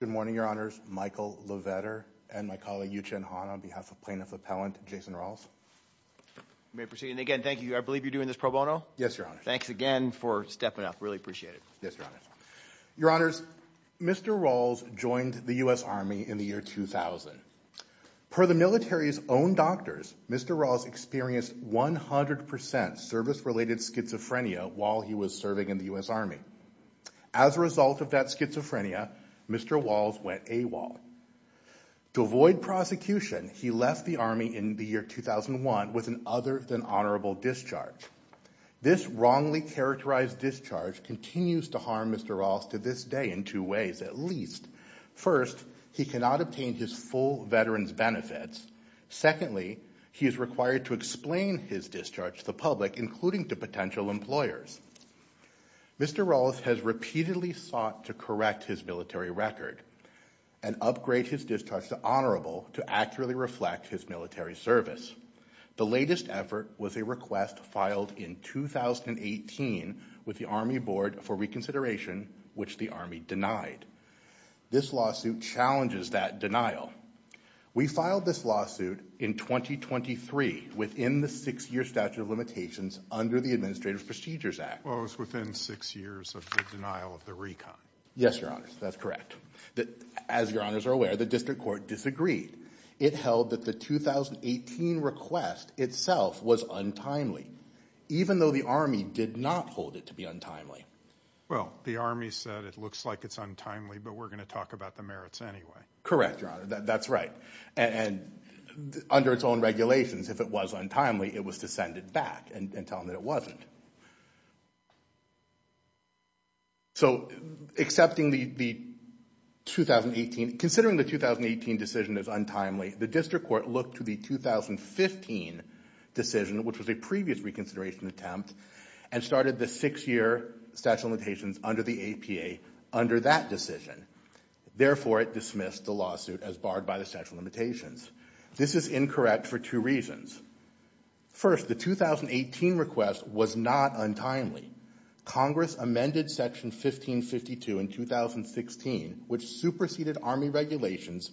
Good morning, Your Honors. Michael Lovetter and my colleague, Yu-Chen Han, on behalf of Plaintiff Appellant Jason Rawls. May I proceed? And again, thank you. I believe you're doing this pro bono? Yes, Your Honor. Thanks again for stepping up. Really appreciate it. Yes, Your Honor. Your Honors, Mr. Rawls joined the U.S. Army in the year 2000. Per the military's own doctors, Mr. Rawls experienced 100% service-related schizophrenia while he was serving in the U.S. Army. As a result of that schizophrenia, Mr. Rawls went AWOL. To avoid prosecution, he left the Army in the year 2001 with an other-than-honorable discharge. This wrongly characterized discharge continues to harm Mr. Rawls to this day in two ways, at least. First, he cannot obtain his full veteran's benefits. Secondly, he is required to explain his discharge to the public, including to potential employers. Mr. Rawls has repeatedly sought to correct his military record and upgrade his discharge to honorable to accurately reflect his military service. The latest effort was a request filed in 2018 with the Army Board for reconsideration, which the Army denied. This lawsuit challenges that denial. We filed this lawsuit in 2023 within the six-year statute of limitations under the Administrative Procedures Act. Well, it was within six years of the denial of the recon. Yes, Your Honors, that's correct. As Your Honors are aware, the district court disagreed. It held that the 2018 request itself was untimely, even though the Army did not hold it to be untimely. Well, the Army said it looks like it's untimely, but we're going to talk about the merits anyway. Correct, Your Honor, that's right. And under its own regulations, if it was untimely, it was to send it back and tell them that it wasn't. So, accepting the 2018, considering the 2018 decision is untimely, the district court looked to the 2015 decision, which was a previous reconsideration attempt, and started the six-year statute of limitations under the APA under that decision. Therefore, it dismissed the lawsuit as barred by the statute of limitations. This is incorrect for two reasons. First, the 2018 request was not untimely. Congress amended Section 1552 in 2016, which superseded Army regulations,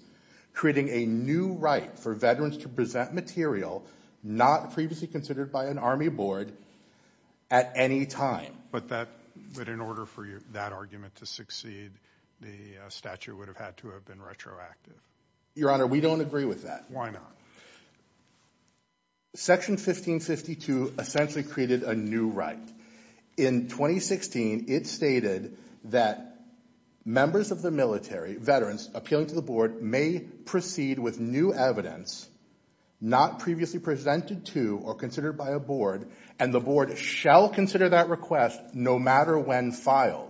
creating a new right for veterans to present material not previously considered by an Army board at any time. But in order for that argument to succeed, the statute would have had to have been retroactive. Your Honor, we don't agree with that. Why not? Section 1552 essentially created a new right. In 2016, it stated that members of the military, veterans, appealing to the board, may proceed with new evidence not previously presented to or considered by a board, and the board shall consider that request no matter when filed.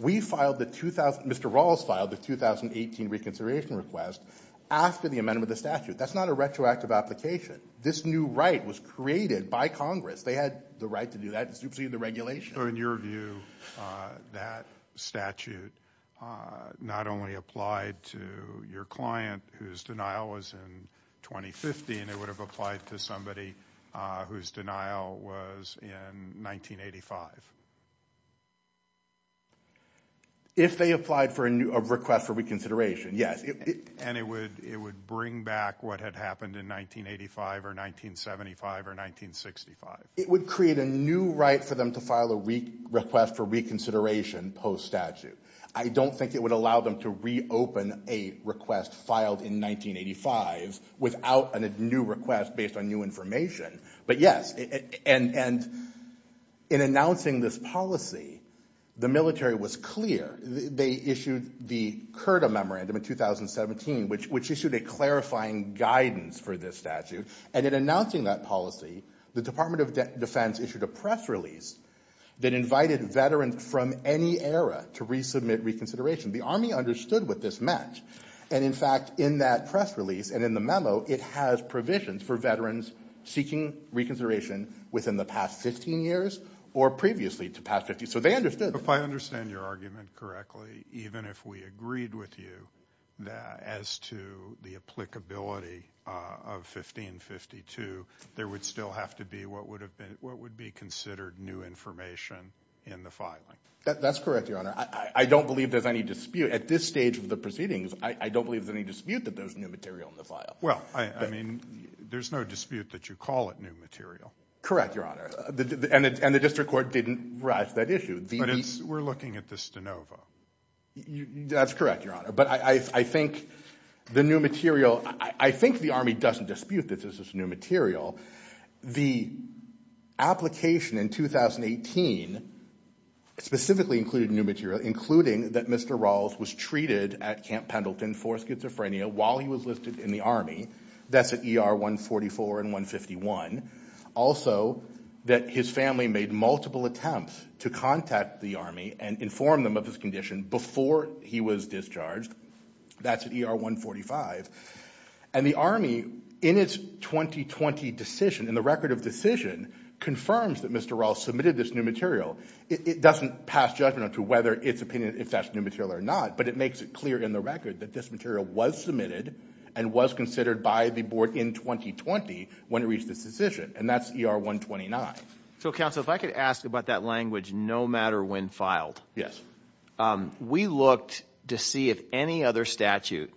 Mr. Rawls filed the 2018 reconsideration request after the amendment of the statute. That's not a retroactive application. This new right was created by Congress. They had the right to do that. It superseded the regulation. So, in your view, that statute not only applied to your client, whose denial was in 2015, it would have applied to somebody whose denial was in 1985? If they applied for a request for reconsideration, yes. And it would bring back what had happened in 1985 or 1975 or 1965? It would create a new right for them to file a request for reconsideration post-statute. I don't think it would allow them to reopen a request filed in 1985 without a new request based on new information. But, yes, and in announcing this policy, the military was clear. They issued the CURTA memorandum in 2017, which issued a clarifying guidance for this statute. And in announcing that policy, the Department of Defense issued a press release that invited veterans from any era to resubmit reconsideration. The Army understood what this meant. And, in fact, in that press release and in the memo, it has provisions for veterans seeking reconsideration within the past 15 years or previously to past 50. So they understood. If I understand your argument correctly, even if we agreed with you as to the applicability of 1552, there would still have to be what would be considered new information in the filing. That's correct, Your Honor. I don't believe there's any dispute. At this stage of the proceedings, I don't believe there's any dispute that there's new material in the file. Well, I mean, there's no dispute that you call it new material. Correct, Your Honor. And the district court didn't rise to that issue. But we're looking at this de novo. That's correct, Your Honor. But I think the new material, I think the Army doesn't dispute that this is new material. The application in 2018 specifically included new material, including that Mr. Rawls was treated at Camp Pendleton for schizophrenia while he was listed in the Army. That's at ER 144 and 151. Also, that his family made multiple attempts to contact the Army and inform them of his condition before he was discharged. That's at ER 145. And the Army, in its 2020 decision, in the record of decision, confirms that Mr. Rawls submitted this new material. It doesn't pass judgment as to whether it's opinion if that's new material or not, but it makes it clear in the record that this material was submitted and was considered by the board in 2020 when it reached its decision, and that's ER 129. So, counsel, if I could ask about that language, no matter when filed. We looked to see if any other statute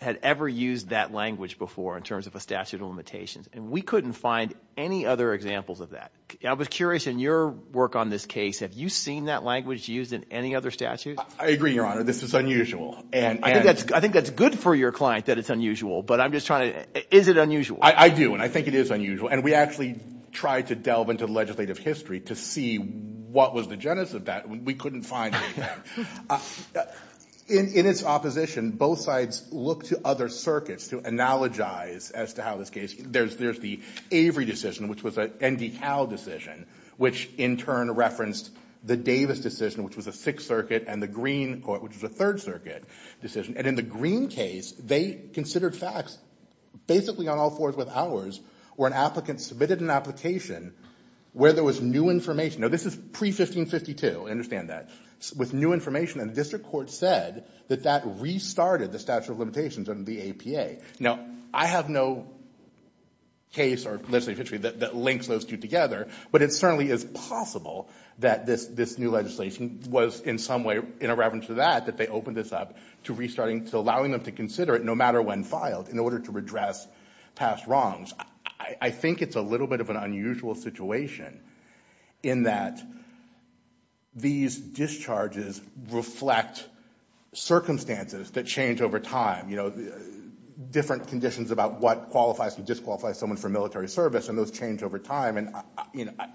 had ever used that language before in terms of a statute of limitations, and we couldn't find any other examples of that. I was curious, in your work on this case, have you seen that language used in any other statute? I agree, Your Honor. This is unusual. I think that's good for your client that it's unusual, but I'm just trying to – is it unusual? I do, and I think it is unusual. And we actually tried to delve into legislative history to see what was the genesis of that. We couldn't find anything. In its opposition, both sides looked to other circuits to analogize as to how this case – there's the Avery decision, which was an ND Cal decision, which in turn referenced the Davis decision, which was a Sixth Circuit, and the Green court, which was a Third Circuit decision. And in the Green case, they considered facts. Basically, on all fours with hours, where an applicant submitted an application where there was new information – now, this is pre-1552, understand that – with new information, and the district court said that that restarted the statute of limitations under the APA. Now, I have no case or legislative history that links those two together, but it certainly is possible that this new legislation was in some way in reverence to that, that they opened this up to restarting, to allowing them to consider it no matter when filed in order to redress past wrongs. I think it's a little bit of an unusual situation in that these discharges reflect circumstances that change over time, different conditions about what qualifies and disqualifies someone from military service, and those change over time, and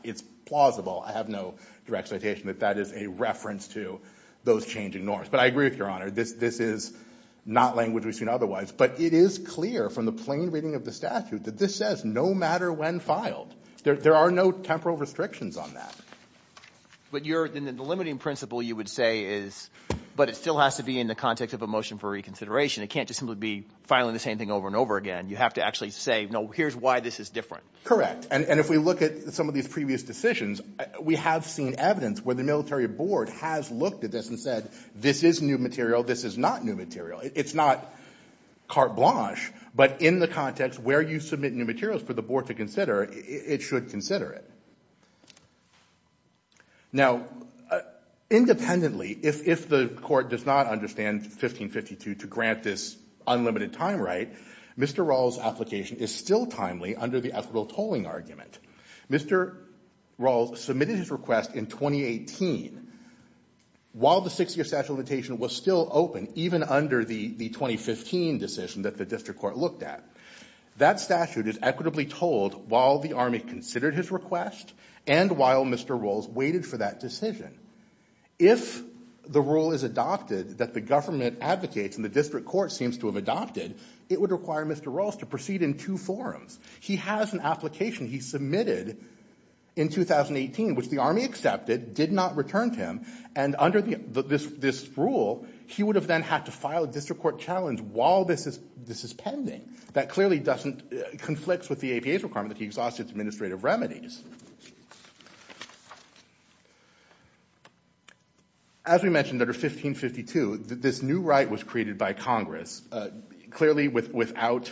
it's plausible – I have no direct citation – that that is a reference to those changing norms. But I agree with Your Honor, this is not language we've seen otherwise, but it is clear from the plain reading of the statute that this says no matter when filed. There are no temporal restrictions on that. But the limiting principle, you would say, is – but it still has to be in the context of a motion for reconsideration. It can't just simply be filing the same thing over and over again. You have to actually say, no, here's why this is different. Correct, and if we look at some of these previous decisions, we have seen evidence where the military board has looked at this and said, this is new material, this is not new material. It's not carte blanche, but in the context where you submit new materials for the board to consider, it should consider it. Now, independently, if the court does not understand 1552 to grant this unlimited time right, Mr. Rawls' application is still timely under the ethical tolling argument. Mr. Rawls submitted his request in 2018. While the 60-year statute of limitation was still open, even under the 2015 decision that the district court looked at, that statute is equitably told while the Army considered his request and while Mr. Rawls waited for that decision. If the rule is adopted that the government advocates and the district court seems to have adopted, it would require Mr. Rawls to proceed in two forms. He has an application he submitted in 2018, which the Army accepted, did not return to him, and under this rule, he would have then had to file a district court challenge while this is pending. That clearly conflicts with the APA's requirement that he exhaust its administrative remedies. As we mentioned, under 1552, this new right was created by Congress, clearly without...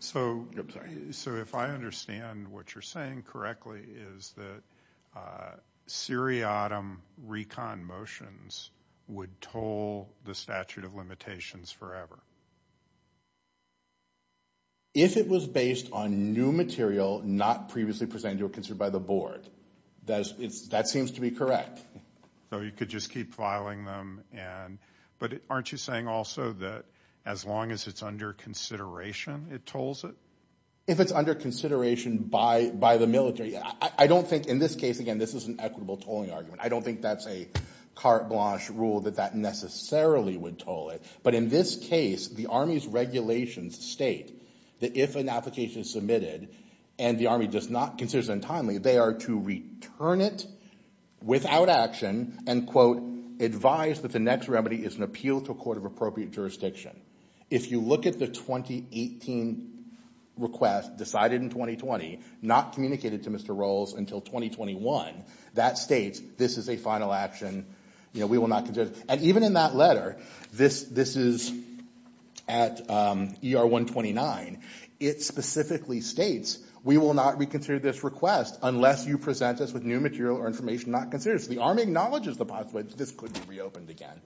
So if I understand what you're saying correctly, is that seriatim recon motions would toll the statute of limitations forever? If it was based on new material not previously presented or considered by the board, that seems to be correct. So you could just keep filing them, but aren't you saying also that as long as it's under consideration, it tolls it? If it's under consideration by the military, I don't think in this case, again, this is an equitable tolling argument. I don't think that's a carte blanche rule that that necessarily would toll it, but in this case, the Army's regulations state that if an application is submitted and the Army does not consider it untimely, they are to return it without action and, quote, advise that the next remedy is an appeal to a court of appropriate jurisdiction. If you look at the 2018 request decided in 2020, not communicated to Mr. Rowles until 2021, that states this is a final action, we will not consider it. And even in that letter, this is at ER 129, it specifically states we will not reconsider this request unless you present us with new material or information not considered. So the Army acknowledges the possibility that this could be reopened again.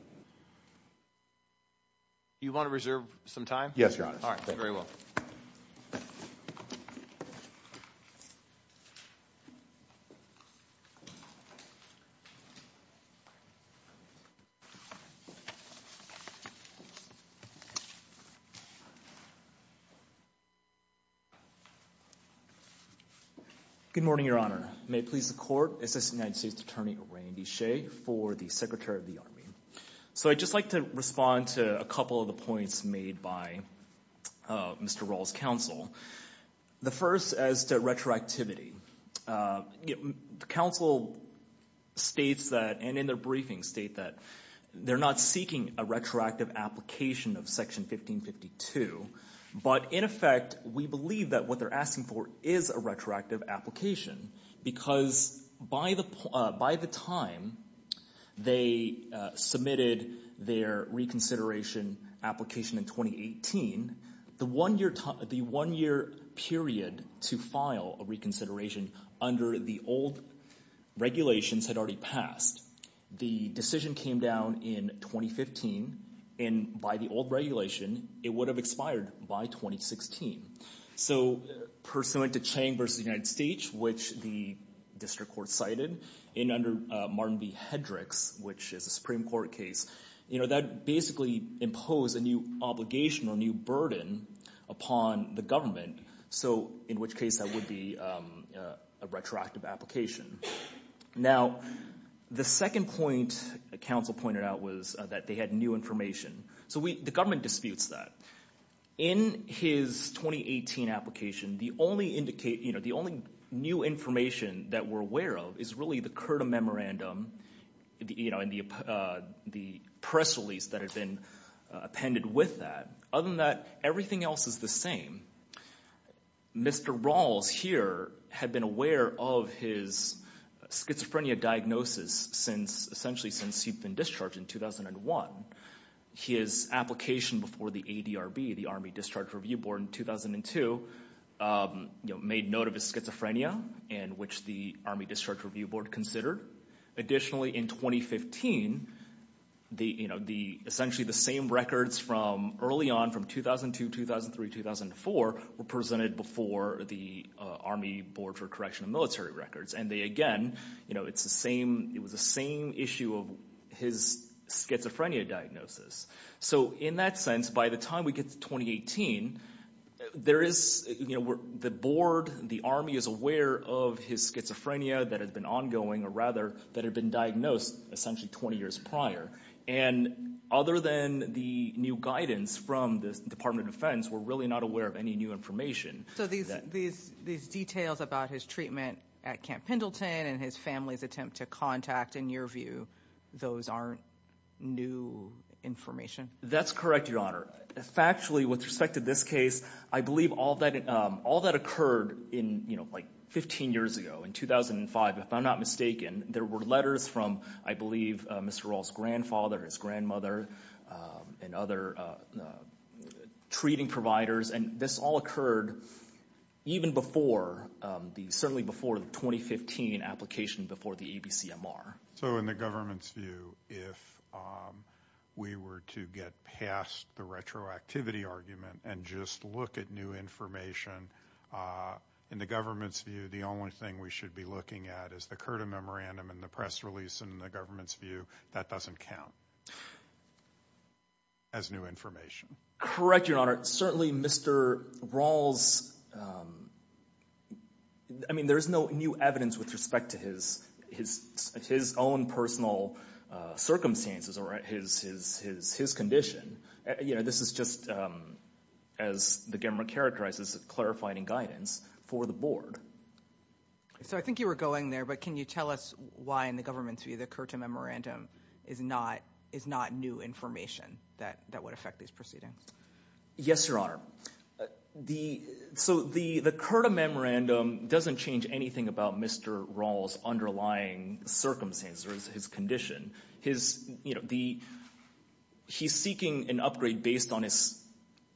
Do you want to reserve some time? Yes, Your Honor. All right, thank you very much. Good morning, Your Honor. May it please the court, this is United States Attorney Randy Shea for the Secretary of the Army. So I'd just like to respond to a couple of the points made by Mr. Rowles' counsel. The first is to retroactivity. The counsel states that, and in their briefing, state that they're not seeking a retroactive application of Section 1552, but in effect we believe that what they're asking for is a retroactive application because by the time they submitted their reconsideration application in 2018, the one-year period to file a reconsideration under the old regulations had already passed. The decision came down in 2015, and by the old regulation, it would have expired by 2016. So pursuant to Chang v. United States, which the district court cited, and under Martin v. Hedricks, which is a Supreme Court case, that basically imposed a new obligation or new burden upon the government, in which case that would be a retroactive application. Now, the second point the counsel pointed out was that they had new information. So the government disputes that. In his 2018 application, the only new information that we're aware of is really the CURTA memorandum and the press release that had been appended with that. Other than that, everything else is the same. Mr. Rowles here had been aware of his schizophrenia diagnosis essentially since he'd been discharged in 2001. His application before the ADRB, the Army Discharge Review Board, in 2002, made note of his schizophrenia, in which the Army Discharge Review Board considered. Additionally, in 2015, essentially the same records from early on, from 2002, 2003, 2004, were presented before the Army Board for Correction of Military Records. And again, it was the same issue of his schizophrenia diagnosis. So in that sense, by the time we get to 2018, the board, the Army, is aware of his schizophrenia that had been ongoing, or rather that had been diagnosed essentially 20 years prior. And other than the new guidance from the Department of Defense, we're really not aware of any new information. So these details about his treatment at Camp Pendleton and his family's attempt to contact, in your view, those aren't new information? That's correct, Your Honor. Factually, with respect to this case, I believe all that occurred 15 years ago. In 2005, if I'm not mistaken, there were letters from, I believe, Mr. Rowles' grandfather, his grandmother, and other treating providers. And this all occurred even before the, certainly before the 2015 application, before the ABCMR. So in the government's view, if we were to get past the retroactivity argument and just look at new information, in the government's view, the only thing we should be looking at is the CURTA memorandum and the press release. In the government's view, that doesn't count as new information. Correct, Your Honor. Certainly, Mr. Rowles, I mean, there's no new evidence with respect to his own personal circumstances or his condition. You know, this is just, as the government characterizes it, clarifying guidance for the board. So I think you were going there, but can you tell us why, in the government's view, the CURTA memorandum is not new information that would affect these proceedings? Yes, Your Honor. So the CURTA memorandum doesn't change anything about Mr. Rowles' underlying circumstances or his condition. His, you know, he's seeking an upgrade based on his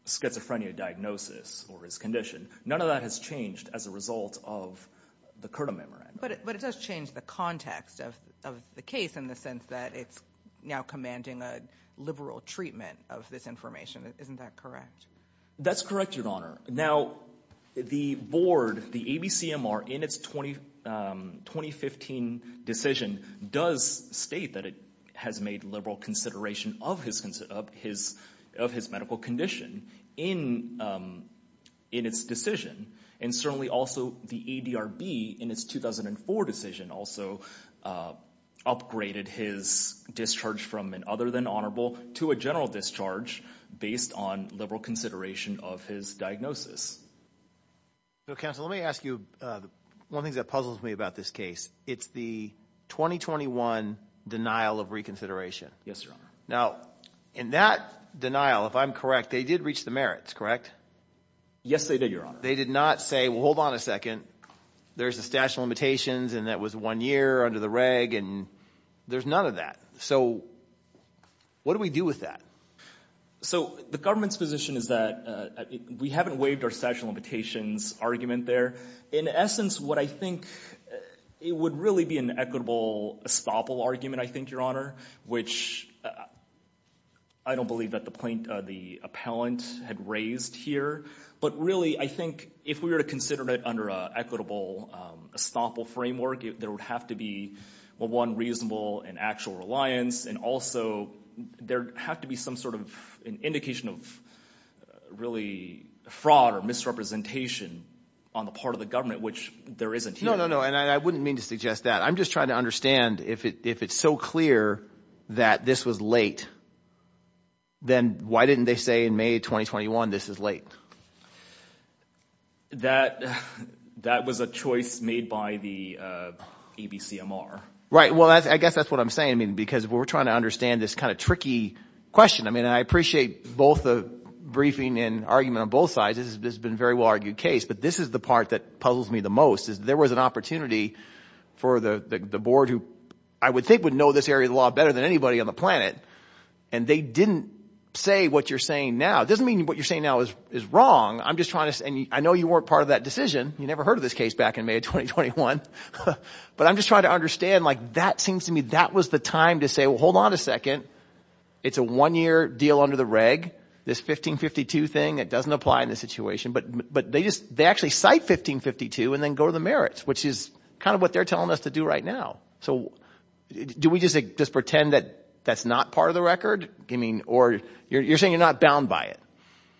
schizophrenia diagnosis or his condition. None of that has changed as a result of the CURTA memorandum. But it does change the context of the case in the sense that it's now commanding a liberal treatment of this information. Isn't that correct? That's correct, Your Honor. Now, the board, the ABCMR, in its 2015 decision, does state that it has made liberal consideration of his medical condition in its decision. And certainly also the ADRB, in its 2004 decision, also upgraded his discharge from an other-than-honorable to a general discharge based on liberal consideration of his diagnosis. Counsel, let me ask you one thing that puzzles me about this case. It's the 2021 denial of reconsideration. Yes, Your Honor. Now, in that denial, if I'm correct, they did reach the merits, correct? Yes, they did, Your Honor. But they did not say, well, hold on a second, there's a statute of limitations and that was one year under the reg, and there's none of that. So what do we do with that? So the government's position is that we haven't waived our statute of limitations argument there. In essence, what I think it would really be an equitable estoppel argument, I think, Your Honor, which I don't believe that the appellant had raised here. But really, I think if we were to consider it under an equitable estoppel framework, there would have to be, well, one, reasonable and actual reliance, and also there'd have to be some sort of indication of really fraud or misrepresentation on the part of the government, which there isn't here. No, no, no, and I wouldn't mean to suggest that. I'm just trying to understand if it's so clear that this was late, then why didn't they say in May 2021 this is late? That was a choice made by the ABCMR. Right, well, I guess that's what I'm saying, I mean, because we're trying to understand this kind of tricky question. I mean, I appreciate both the briefing and argument on both sides. This has been a very well-argued case. But this is the part that puzzles me the most, is there was an opportunity for the board, who I would think would know this area of the law better than anybody on the planet, and they didn't say what you're saying now. It doesn't mean what you're saying now is wrong. I'm just trying to – and I know you weren't part of that decision. You never heard of this case back in May 2021. But I'm just trying to understand, like, that seems to me that was the time to say, well, hold on a second, it's a one-year deal under the reg, this 1552 thing. It doesn't apply in this situation. But they actually cite 1552 and then go to the merits, which is kind of what they're telling us to do right now. So do we just pretend that that's not part of the record? I mean, or you're saying you're not bound by it.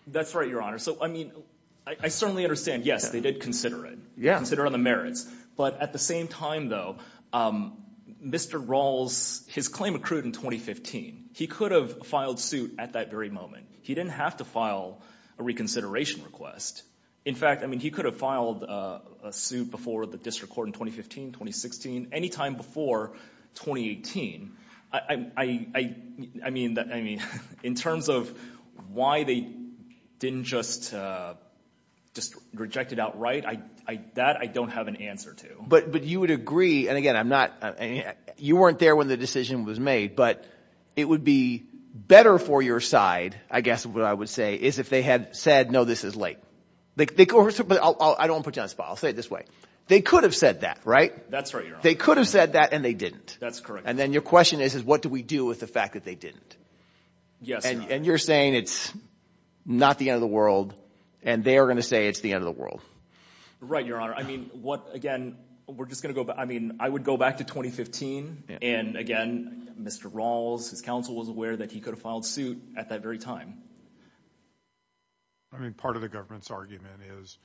That's right, Your Honor. So, I mean, I certainly understand, yes, they did consider it, consider the merits. But at the same time, though, Mr. Rawls, his claim accrued in 2015. He could have filed suit at that very moment. He didn't have to file a reconsideration request. In fact, I mean, he could have filed a suit before the district court in 2015, 2016, any time before 2018. I mean, in terms of why they didn't just reject it outright, that I don't have an answer to. But you would agree, and again, I'm not – you weren't there when the decision was made. But it would be better for your side, I guess what I would say, is if they had said, no, this is late. I don't want to put you on the spot. I'll say it this way. They could have said that, right? That's right, Your Honor. They could have said that, and they didn't. That's correct. And then your question is, is what do we do with the fact that they didn't? Yes, Your Honor. And you're saying it's not the end of the world, and they are going to say it's the end of the world. Right, Your Honor. I mean, what – again, we're just going to go – I mean, I would go back to 2015. And again, Mr. Rawls, his counsel was aware that he could have filed suit at that very time. I mean, part of the government's argument is,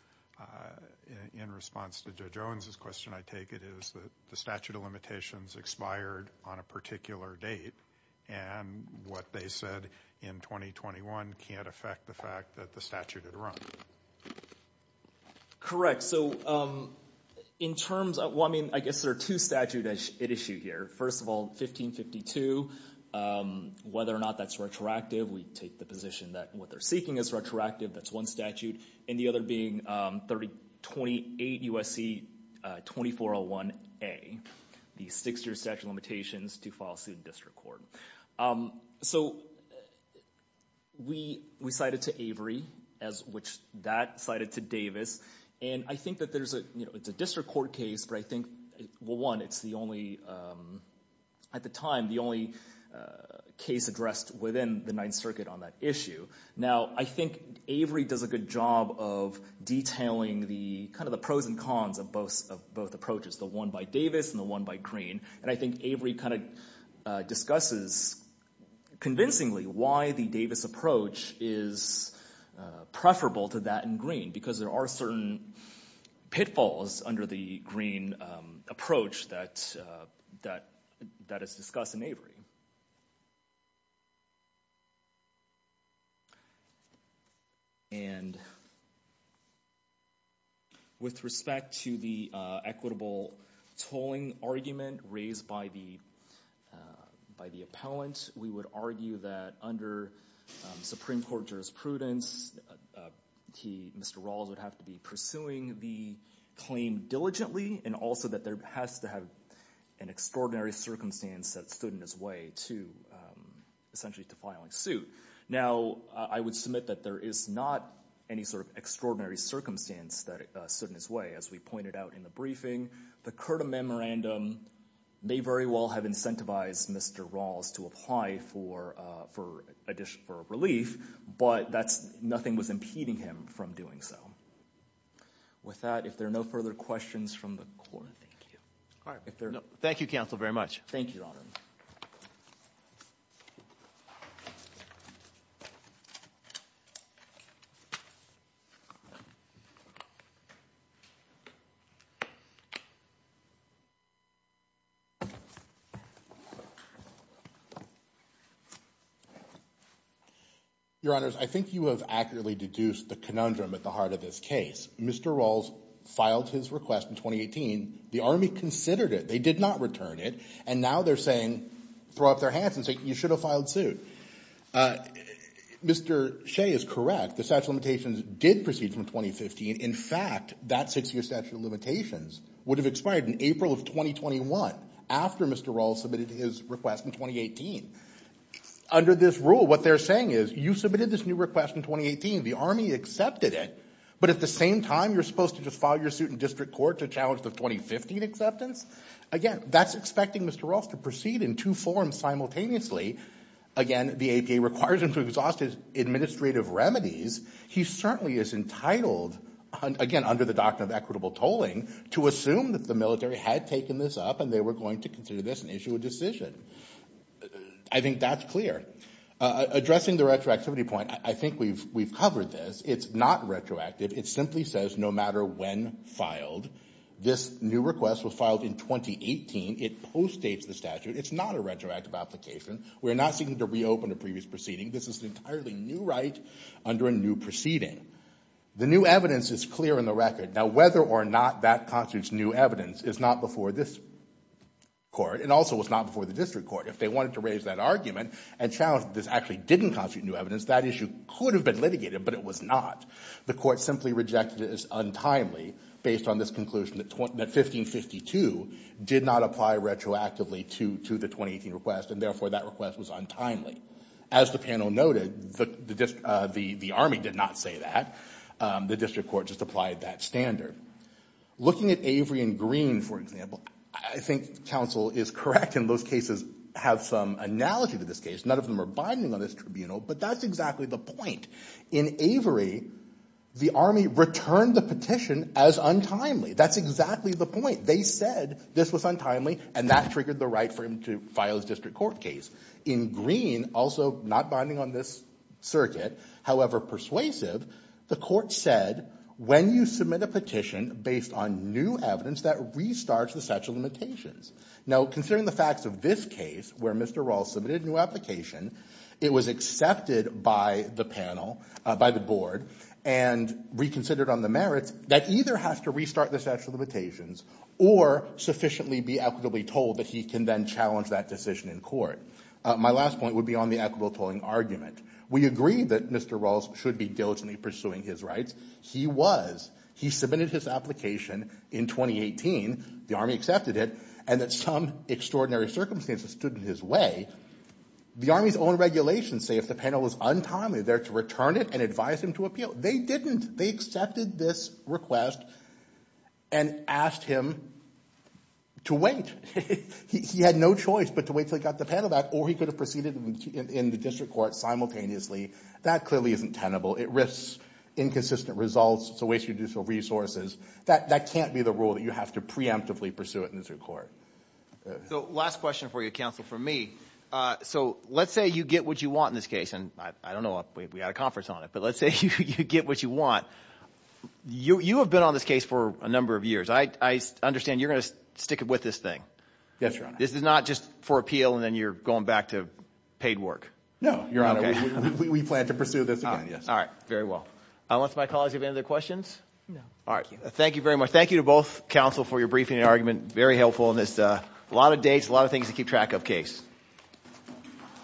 in response to Judge Owens' question, I take it is that the statute of limitations expired on a particular date, and what they said in 2021 can't affect the fact that the statute had run. Correct. All right, so in terms of – well, I mean, I guess there are two statutes at issue here. First of all, 1552, whether or not that's retroactive, we take the position that what they're seeking is retroactive. That's one statute. And the other being 3028 U.S.C. 2401A, the six-year statute of limitations to file suit in district court. So we cited to Avery, as which that cited to Davis. And I think that there's a – it's a district court case, but I think, well, one, it's the only – at the time, the only case addressed within the Ninth Circuit on that issue. Now, I think Avery does a good job of detailing the – kind of the pros and cons of both approaches, the one by Davis and the one by Green. And I think Avery kind of discusses convincingly why the Davis approach is preferable to that in Green because there are certain pitfalls under the Green approach that is discussed in Avery. And with respect to the equitable tolling argument raised by the appellant, we would argue that under Supreme Court jurisprudence, Mr. Rawls would have to be pursuing the claim diligently and also that there has to have an extraordinary circumstance that stood in his way to – essentially to filing suit. Now, I would submit that there is not any sort of extraordinary circumstance that stood in his way, as we pointed out in the briefing. The CURTA memorandum may very well have incentivized Mr. Rawls to apply for relief, but that's – nothing was impeding him from doing so. With that, if there are no further questions from the court – Thank you. All right. Thank you, counsel, very much. Thank you, Your Honor. Your Honors, I think you have accurately deduced the conundrum at the heart of this case. Mr. Rawls filed his request in 2018. The Army considered it. They did not return it. And now they're saying – throw up their hands and say you should have filed suit. Mr. Shea is correct. The statute of limitations did proceed from 2015. In fact, that six-year statute of limitations would have expired in April of 2021 after Mr. Rawls submitted his request in 2018. Under this rule, what they're saying is you submitted this new request in 2018, the Army accepted it, but at the same time you're supposed to just file your suit in district court to challenge the 2015 acceptance? Again, that's expecting Mr. Rawls to proceed in two forms simultaneously. Again, the APA requires him to exhaust his administrative remedies. He certainly is entitled, again, under the doctrine of equitable tolling, to assume that the military had taken this up and they were going to consider this and issue a decision. I think that's clear. Addressing the retroactivity point, I think we've covered this. It's not retroactive. It simply says no matter when filed, this new request was filed in 2018. It postdates the statute. It's not a retroactive application. We're not seeking to reopen a previous proceeding. This is an entirely new right under a new proceeding. The new evidence is clear in the record. Now, whether or not that constitutes new evidence is not before this court and also was not before the district court. If they wanted to raise that argument and challenge that this actually didn't constitute new evidence, that issue could have been litigated, but it was not. The court simply rejected it as untimely based on this conclusion that 1552 did not apply retroactively to the 2018 request, and therefore that request was untimely. As the panel noted, the Army did not say that. The district court just applied that standard. Looking at Avery and Green, for example, I think counsel is correct and those cases have some analogy to this case. None of them are binding on this tribunal, but that's exactly the point. In Avery, the Army returned the petition as untimely. That's exactly the point. They said this was untimely, and that triggered the right for him to file his district court case. In Green, also not binding on this circuit, however persuasive, the court said when you submit a petition based on new evidence, that restarts the statute of limitations. Now, considering the facts of this case where Mr. Rawls submitted a new application, it was accepted by the panel, by the board, and reconsidered on the merits, that either has to restart the statute of limitations or sufficiently be equitably told that he can then challenge that decision in court. My last point would be on the equitable tolling argument. We agree that Mr. Rawls should be diligently pursuing his rights. He was. He submitted his application in 2018. The Army accepted it, and that some extraordinary circumstances stood in his way. The Army's own regulations say if the panel is untimely, they're to return it and advise him to appeal. They didn't. They accepted this request and asked him to wait. He had no choice but to wait until he got the panel back, or he could have proceeded in the district court simultaneously. That clearly isn't tenable. It risks inconsistent results. It's a waste of resources. That can't be the rule that you have to preemptively pursue it in the district court. So last question for you, counsel, from me. So let's say you get what you want in this case. And I don't know if we had a conference on it, but let's say you get what you want. You have been on this case for a number of years. I understand you're going to stick with this thing. Yes, Your Honor. This is not just for appeal and then you're going back to paid work. No, Your Honor. We plan to pursue this again, yes. All right. Very well. Unless my colleagues have any other questions? No. All right. Thank you very much. Thank you to both counsel for your briefing and argument. Very helpful. And there's a lot of dates, a lot of things to keep track of the case.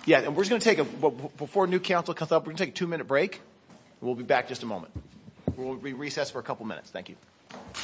Yeah, and we're just going to take a – before a new counsel comes up, we're going to take a two-minute break. We'll be back in just a moment. We'll recess for a couple minutes. Thank you. Thank you.